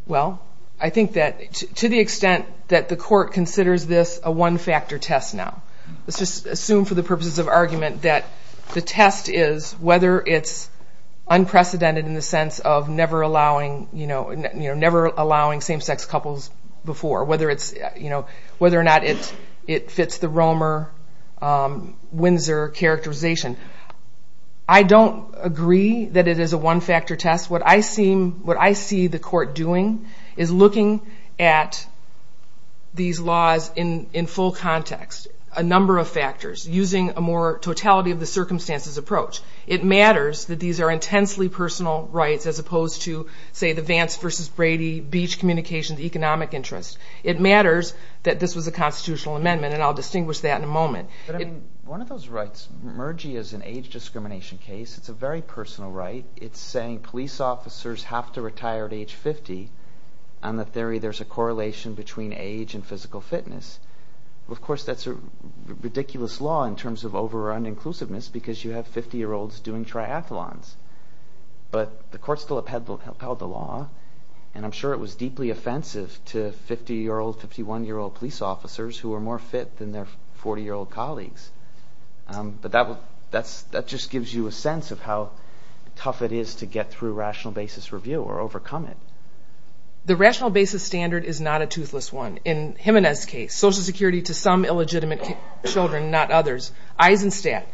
Well, I think that to the extent that the court considers this a one-factor test now, let's just assume for the purposes of argument that the test is whether it's unprecedented in the sense of never allowing same-sex couples before, whether or not it fits the Romer-Windsor characterization. I don't agree that it is a one-factor test. What I see the court doing is looking at these laws in full context, a number of factors, using a more totality of the circumstances approach. It matters that these are intensely personal rights as opposed to, say, the Vance v. Brady beach communications economic interest. It matters that this was a constitutional amendment, and I'll distinguish that in a moment. But, I mean, one of those rights, MERGI as an age discrimination case, it's a very personal right. It's saying police officers have to retire at age 50. On the theory there's a correlation between age and physical fitness. Of course, that's a ridiculous law in terms of over-or-uninclusiveness because you have 50-year-olds doing triathlons. But the court still upheld the law, and I'm sure it was deeply offensive to 50-year-old, 51-year-old police officers who were more fit than their 40-year-old colleagues. But that just gives you a sense of how tough it is to get through rational basis review or overcome it. The rational basis standard is not a toothless one. In Jimenez's case, Social Security to some illegitimate children, not others. Eisenstadt,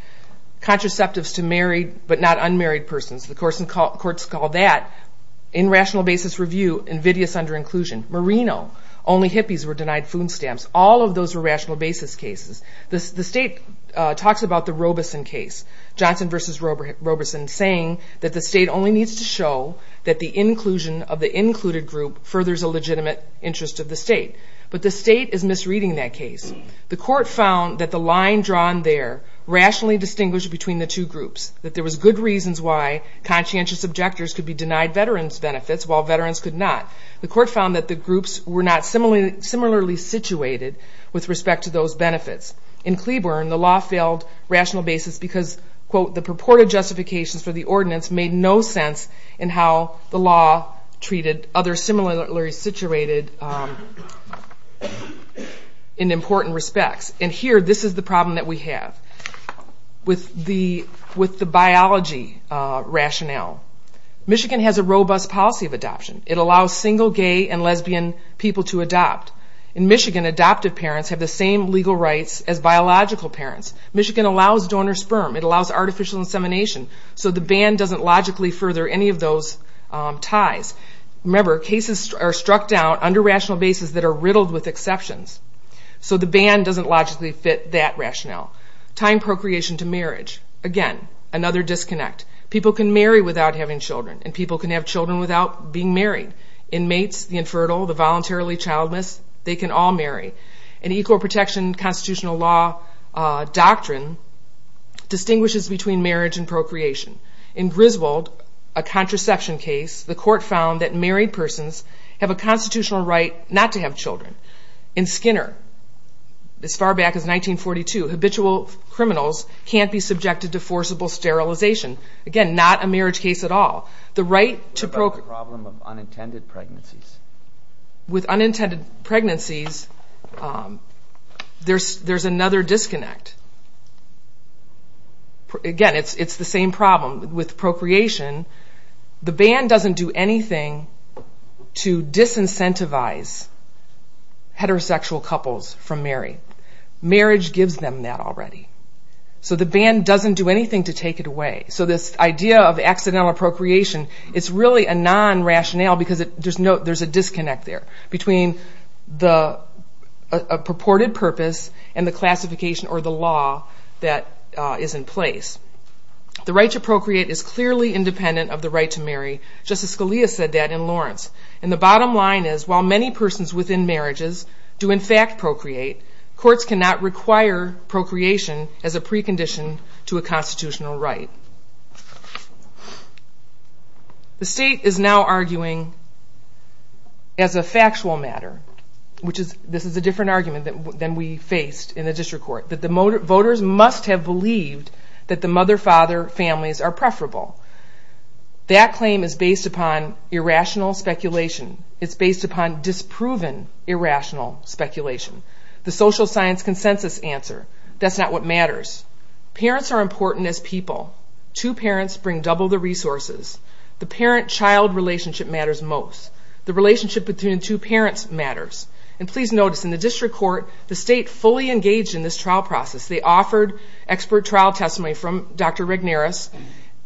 contraceptives to married but not unmarried persons. The courts called that in rational basis review invidious under inclusion. Merino, only hippies were denied food stamps. All of those were rational basis cases. The state talks about the Robeson case, Johnson v. Robeson, saying that the state only needs to show that the inclusion of the included group furthers a legitimate interest of the state. But the state is misreading that case. The court found that the line drawn there rationally distinguished between the two groups, that there was good reasons why conscientious objectors could be denied veterans benefits while veterans could not. The court found that the groups were not similarly situated with respect to those benefits. In Cleburne, the law failed rational basis because, quote, the purported justifications for the ordinance made no sense in how the law treated others similarly situated in important respects. And here, this is the problem that we have with the biology rationale. Michigan has a robust policy of adoption. It allows single gay and lesbian people to adopt. In Michigan, adoptive parents have the same legal rights as biological parents. Michigan allows donor sperm. It allows artificial insemination. So the ban doesn't logically further any of those ties. Remember, cases are struck down under rational basis that are riddled with exceptions. So the ban doesn't logically fit that rationale. Tying procreation to marriage. Again, another disconnect. People can marry without having children, and people can have children without being married. Inmates, the infertile, the voluntarily childless, they can all marry. An equal protection constitutional law doctrine distinguishes between marriage and procreation. In Griswold, a contraception case, the court found that married persons have a constitutional right not to have children. In Skinner, as far back as 1942, habitual criminals can't be subjected to forcible sterilization. Again, not a marriage case at all. The right to procreation. What about the problem of unintended pregnancies? With unintended pregnancies, there's another disconnect. Again, it's the same problem. With procreation, the ban doesn't do anything to disincentivize heterosexual couples from marrying. Marriage gives them that already. So the ban doesn't do anything to take it away. So this idea of accidental procreation, it's really a non-rationale because there's a disconnect there between the purported purpose and the classification or the law that is in place. The right to procreate is clearly independent of the right to marry. Justice Scalia said that in Lawrence. And the bottom line is, while many persons within marriages do in fact procreate, courts cannot require procreation as a precondition to a constitutional right. The state is now arguing as a factual matter, which is a different argument than we faced in the district court, that the voters must have believed that the mother-father families are preferable. That claim is based upon irrational speculation. It's based upon disproven irrational speculation. The social science consensus answer, that's not what matters. Parents are important as people. Two parents bring double the resources. The parent-child relationship matters most. The relationship between the two parents matters. And please notice, in the district court, the state fully engaged in this trial process. They offered expert trial testimony from Dr. Regnerus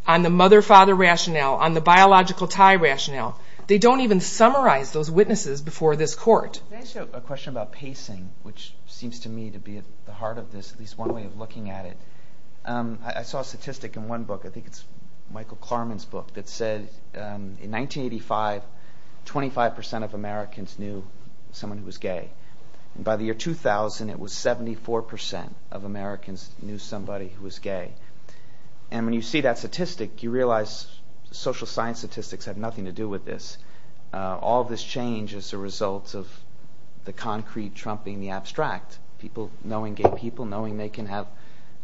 on the mother-father rationale, on the biological tie rationale. They don't even summarize those witnesses before this court. Can I ask you a question about pacing, which seems to me to be at the heart of this, at least one way of looking at it. I saw a statistic in one book, I think it's Michael Klarman's book, that said in 1985, 25% of Americans knew someone who was gay. And by the year 2000, it was 74% of Americans knew somebody who was gay. And when you see that statistic, you realize social science statistics have nothing to do with this. All this change is a result of the concrete trumping the abstract. Knowing gay people, knowing they can have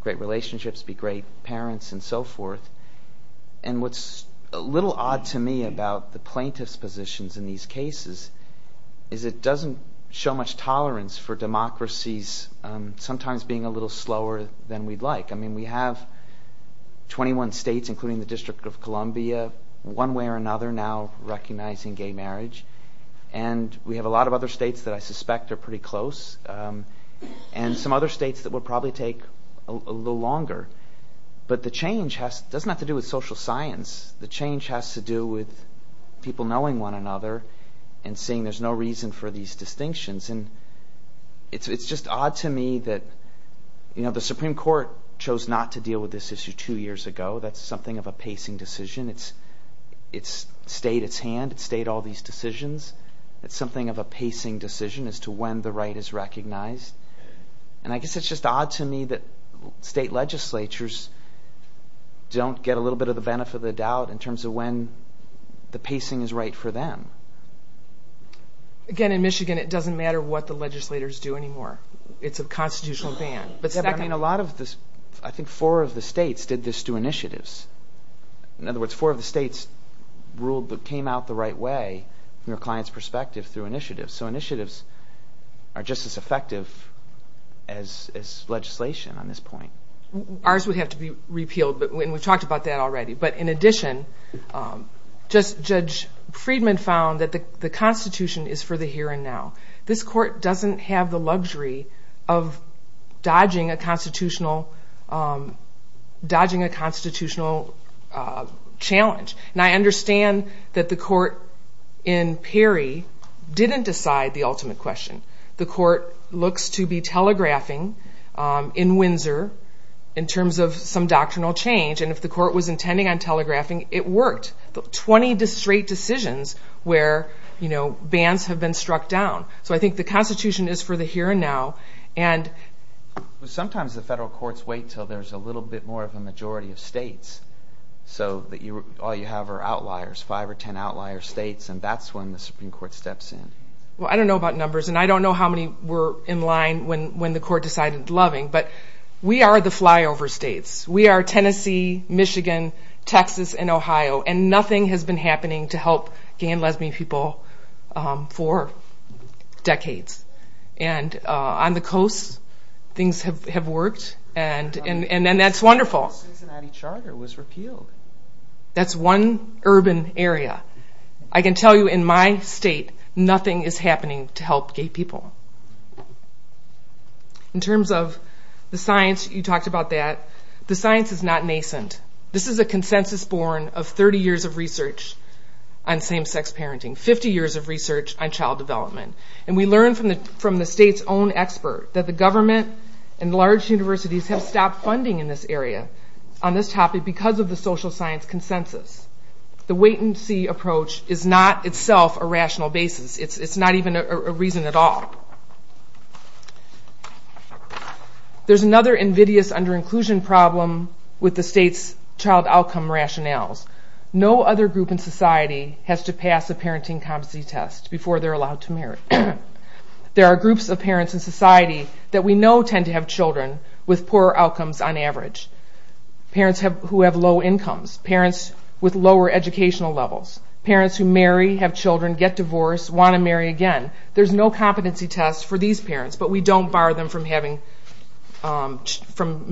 great relationships, be great parents, and so forth. And what's a little odd to me about the plaintiff's positions in these cases is it doesn't show much tolerance for democracies sometimes being a little slower than we'd like. I mean, we have 21 states, including the District of Columbia, one way or another now recognizing gay marriage. And we have a lot of other states that I suspect are pretty close. And some other states that would probably take a little longer. But the change doesn't have to do with social science. The change has to do with people knowing one another and seeing there's no reason for these distinctions. And it's just odd to me that the Supreme Court chose not to deal with this issue two years ago. That's something of a pacing decision. It stayed its hand. It stayed all these decisions. It's something of a pacing decision as to when the right is recognized. And I guess it's just odd to me that state legislatures don't get a little bit of the benefit of the doubt in terms of when the pacing is right for them. Again, in Michigan, it doesn't matter what the legislators do anymore. It's a constitutional ban. I think four of the states did this through initiatives. In other words, four of the states came out the right way from their client's perspective through initiatives. So initiatives are just as effective as legislation on this point. Ours would have to be repealed, and we've talked about that already. But in addition, Judge Friedman found that the Constitution is for the here and now. This court doesn't have the luxury of dodging a constitutional challenge. And I understand that the court in Perry didn't decide the ultimate question. The court looks to be telegraphing in Windsor in terms of some doctrinal change. And if the court was intending on telegraphing, it worked. Twenty straight decisions where bans have been struck down. So I think the Constitution is for the here and now. Sometimes the federal courts wait until there's a little bit more of a majority of states. So all you have are outliers, five or ten outlier states, and that's when the Supreme Court steps in. Well, I don't know about numbers, and I don't know how many were in line when the court decided loving, but we are the flyover states. We are Tennessee, Michigan, Texas, and Ohio, and nothing has been happening to help gay and lesbian people for decades. And on the coast, things have worked, and that's wonderful. The Cincinnati Charter was repealed. That's one urban area. I can tell you in my state, nothing is happening to help gay people. In terms of the science, you talked about that. The science is not nascent. This is a consensus born of 30 years of research on same-sex parenting, 50 years of research on child development. And we learned from the state's own expert that the government and large universities have stopped funding in this area on this topic because of the social science consensus. The wait-and-see approach is not itself a rational basis. It's not even a reason at all. There's another invidious under-inclusion problem with the state's child outcome rationales. No other group in society has to pass a parenting competency test before they're allowed to marry. There are groups of parents in society that we know tend to have children with poorer outcomes on average, parents who have low incomes, parents with lower educational levels, parents who marry, have children, get divorced, want to marry again. There's no competency test for these parents, but we don't bar them from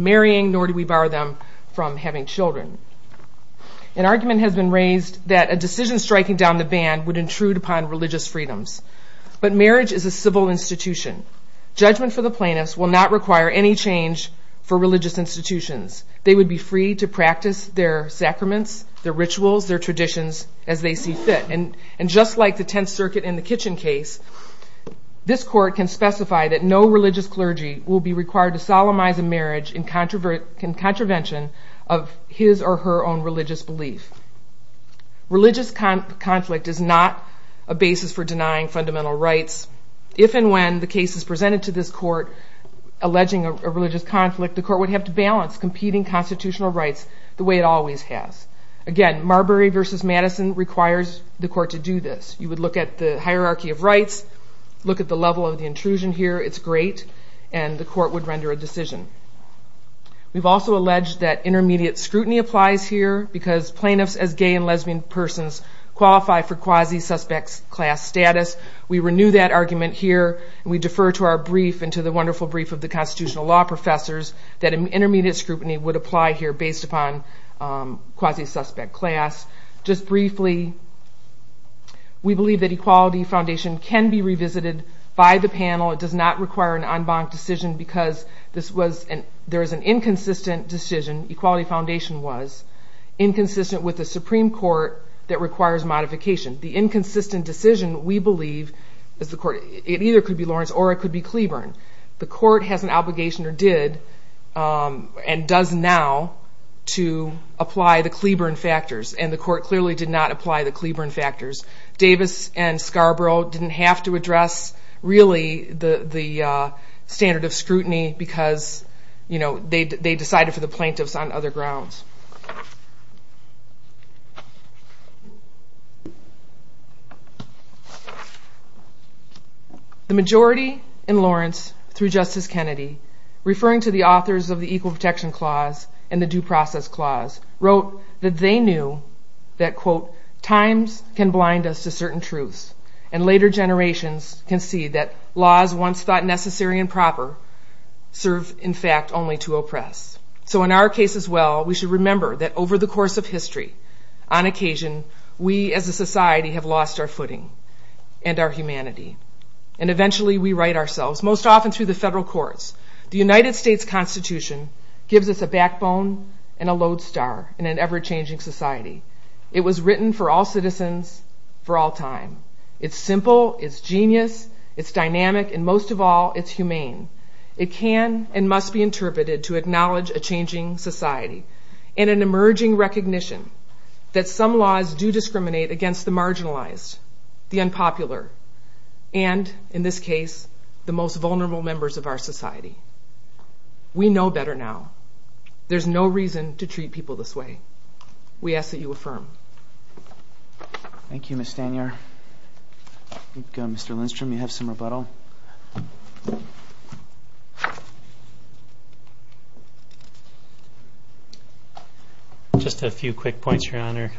marrying, nor do we bar them from having children. An argument has been raised that a decision striking down the ban would intrude upon religious freedoms. But marriage is a civil institution. Judgment for the plaintiffs will not require any change for religious institutions. They would be free to practice their sacraments, their rituals, their traditions as they see fit. And just like the Tenth Circuit in the Kitchen case, this court can specify that no religious clergy will be required to solemnize a marriage in contravention of his or her own religious belief. Religious conflict is not a basis for denying fundamental rights. If and when the case is presented to this court alleging a religious conflict, the court would have to balance competing constitutional rights the way it always has. Again, Marbury v. Madison requires the court to do this. You would look at the hierarchy of rights, look at the level of the intrusion here, it's great, and the court would render a decision. We've also alleged that intermediate scrutiny applies here because plaintiffs as gay and lesbian persons qualify for quasi-suspect class status. We renew that argument here, and we defer to our brief and to the wonderful brief of the constitutional law professors that intermediate scrutiny would apply here based upon quasi-suspect class. Just briefly, we believe that Equality Foundation can be revisited by the panel. It does not require an en banc decision because there is an inconsistent decision, Equality Foundation was, inconsistent with the Supreme Court that requires modification. The inconsistent decision, we believe, it either could be Lawrence or it could be Cleburne. The court has an obligation, or did, and does now, to apply the Cleburne factors, and the court clearly did not apply the Cleburne factors. Davis and Scarborough didn't have to address, really, the standard of scrutiny because they decided for the plaintiffs on other grounds. The majority in Lawrence, through Justice Kennedy, referring to the authors of the Equal Protection Clause and the Due Process Clause, wrote that they knew that, quote, times can blind us to certain truths, and later generations can see that laws once thought necessary and proper serve, in fact, only to oppress. we should return to the Constitutional law and remember that over the course of history, on occasion, we as a society have lost our footing and our humanity, and eventually we right ourselves, most often through the federal courts. The United States Constitution gives us a backbone and a lodestar in an ever-changing society. It was written for all citizens for all time. It's simple, it's genius, it's dynamic, and most of all, it's humane. It can and must be interpreted to acknowledge a changing society and an emerging recognition that some laws do discriminate against the marginalized, the unpopular, and, in this case, the most vulnerable members of our society. We know better now. There's no reason to treat people this way. We ask that you affirm. Thank you, Ms. Stanier. I think, Mr. Lindstrom, you have some rebuttal. Thank you. Just a few quick points, Your Honor.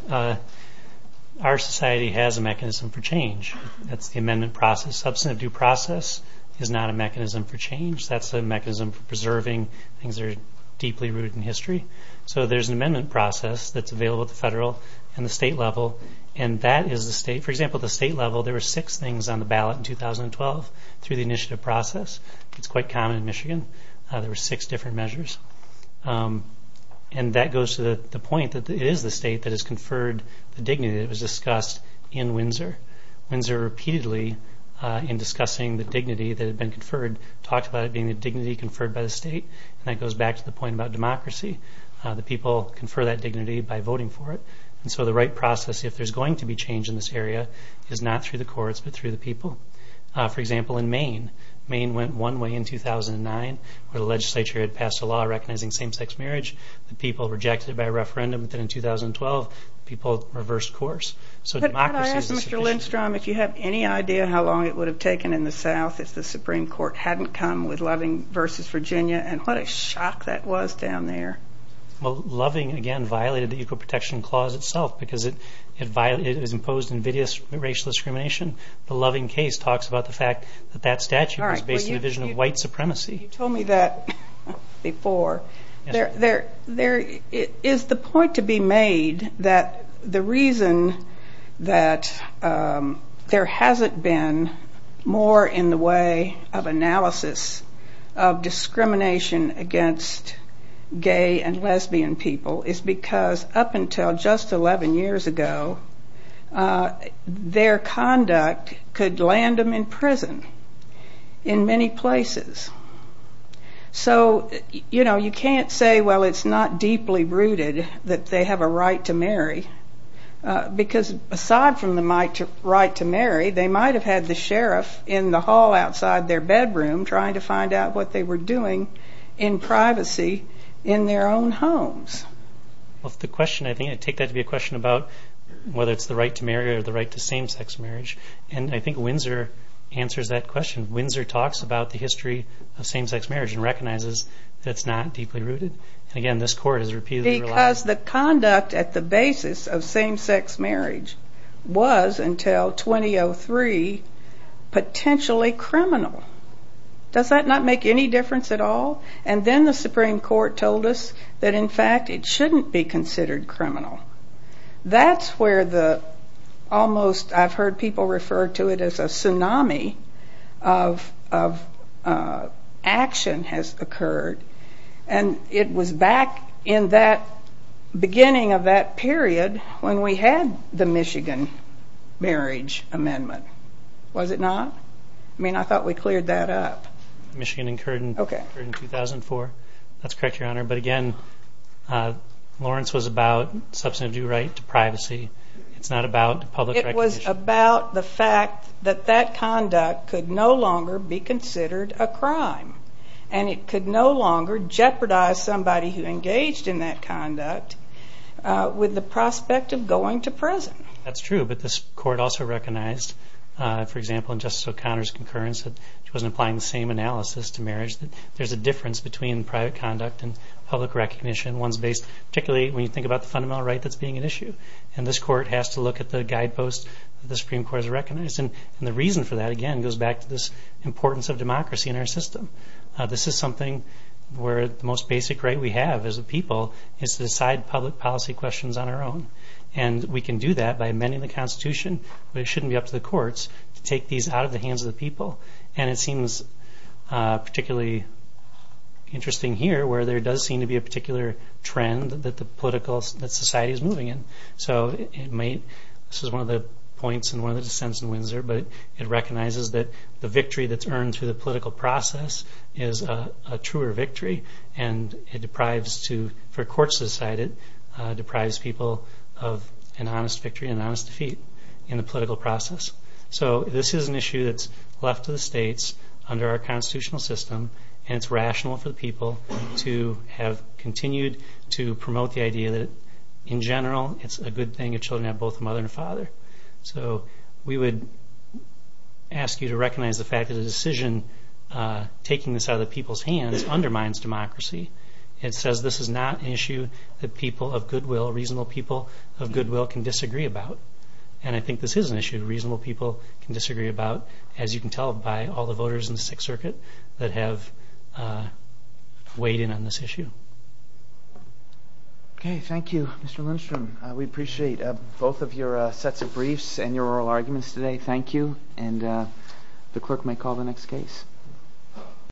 Our society has a mechanism for change. That's the amendment process. Substantive due process is not a mechanism for change. That's a mechanism for preserving things that are deeply rooted in history. So there's an amendment process that's available at the federal and the state level, and that is the state. For example, at the state level, there were six things on the ballot in 2012 through the initiative process. It's quite common in Michigan. There were six different measures. And that goes to the point that it is the state that has conferred the dignity that was discussed in Windsor. Windsor repeatedly, in discussing the dignity that had been conferred, talked about it being the dignity conferred by the state, and that goes back to the point about democracy, that people confer that dignity by voting for it. And so the right process, if there's going to be change in this area, is not through the courts, but through the people. For example, in Maine, Maine went one way in 2009 where the legislature had passed a law recognizing same-sex marriage. The people rejected it by a referendum, but then in 2012, people reversed course. Could I ask, Mr. Lindstrom, if you have any idea how long it would have taken in the South if the Supreme Court hadn't come with Loving v. Virginia, and what a shock that was down there. Well, Loving, again, violated the Equal Protection Clause itself because it is imposed invidious racial discrimination. The Loving case talks about the fact that that statute was based on the vision of white supremacy. You told me that before. Is the point to be made that the reason that there hasn't been more in the way of analysis of discrimination against gay and lesbian people is because up until just 11 years ago, their conduct could land them in prison in many places. So, you know, you can't say, well, it's not deeply rooted that they have a right to marry because aside from the right to marry, they might have had the sheriff in the hall outside their bedroom trying to find out what they were doing in privacy in their own homes. I take that to be a question about whether it's the right to marry or the right to same-sex marriage, and I think Windsor answers that question. Windsor talks about the history of same-sex marriage and recognizes that it's not deeply rooted. Because the conduct at the basis of same-sex marriage was, until 2003, potentially criminal. Does that not make any difference at all? And then the Supreme Court told us that, in fact, it shouldn't be considered criminal. That's where the almost, I've heard people refer to it as a tsunami of action has occurred, and it was back in that beginning of that period when we had the Michigan Marriage Amendment. Was it not? I mean, I thought we cleared that up. Michigan incurred in 2004. That's correct, Your Honor. But again, Lawrence was about substantive due right to privacy. It's not about public recognition. It was about the fact that that conduct could no longer be considered a crime. And it could no longer jeopardize somebody who engaged in that conduct with the prospect of going to prison. That's true, but this Court also recognized, for example, in Justice O'Connor's concurrence, which wasn't applying the same analysis to marriage, that there's a difference between private conduct and public recognition, particularly when you think about the fundamental right that's being an issue. And this Court has to look at the guidepost that the Supreme Court has recognized. And the reason for that, again, goes back to this importance of democracy in our system. This is something where the most basic right we have as a people is to decide public policy questions on our own. And we can do that by amending the Constitution, but it shouldn't be up to the courts to take these out of the hands of the people. And it seems particularly interesting here, where there does seem to be a particular trend that the society is moving in. This is one of the points in one of the dissents in Windsor, but it recognizes that the victory that's earned through the political process is a truer victory. And it deprives, for example, of an honest victory and an honest defeat in the political process. So this is an issue that's left to the states under our constitutional system, and it's rational for the people to have continued to promote the idea that, in general, it's a good thing if children have both a mother and a father. So we would ask you to recognize the fact that a decision taking this out of the people's hands undermines democracy. It says this is not an issue that reasonable people of goodwill can disagree about. And I think this is an issue reasonable people can disagree about, as you can tell by all the voters in the Sixth Circuit that have weighed in on this issue. Okay, thank you, Mr. Lindstrom. We appreciate both of your sets of briefs and your oral arguments today. Thank you. And the clerk may call the next case.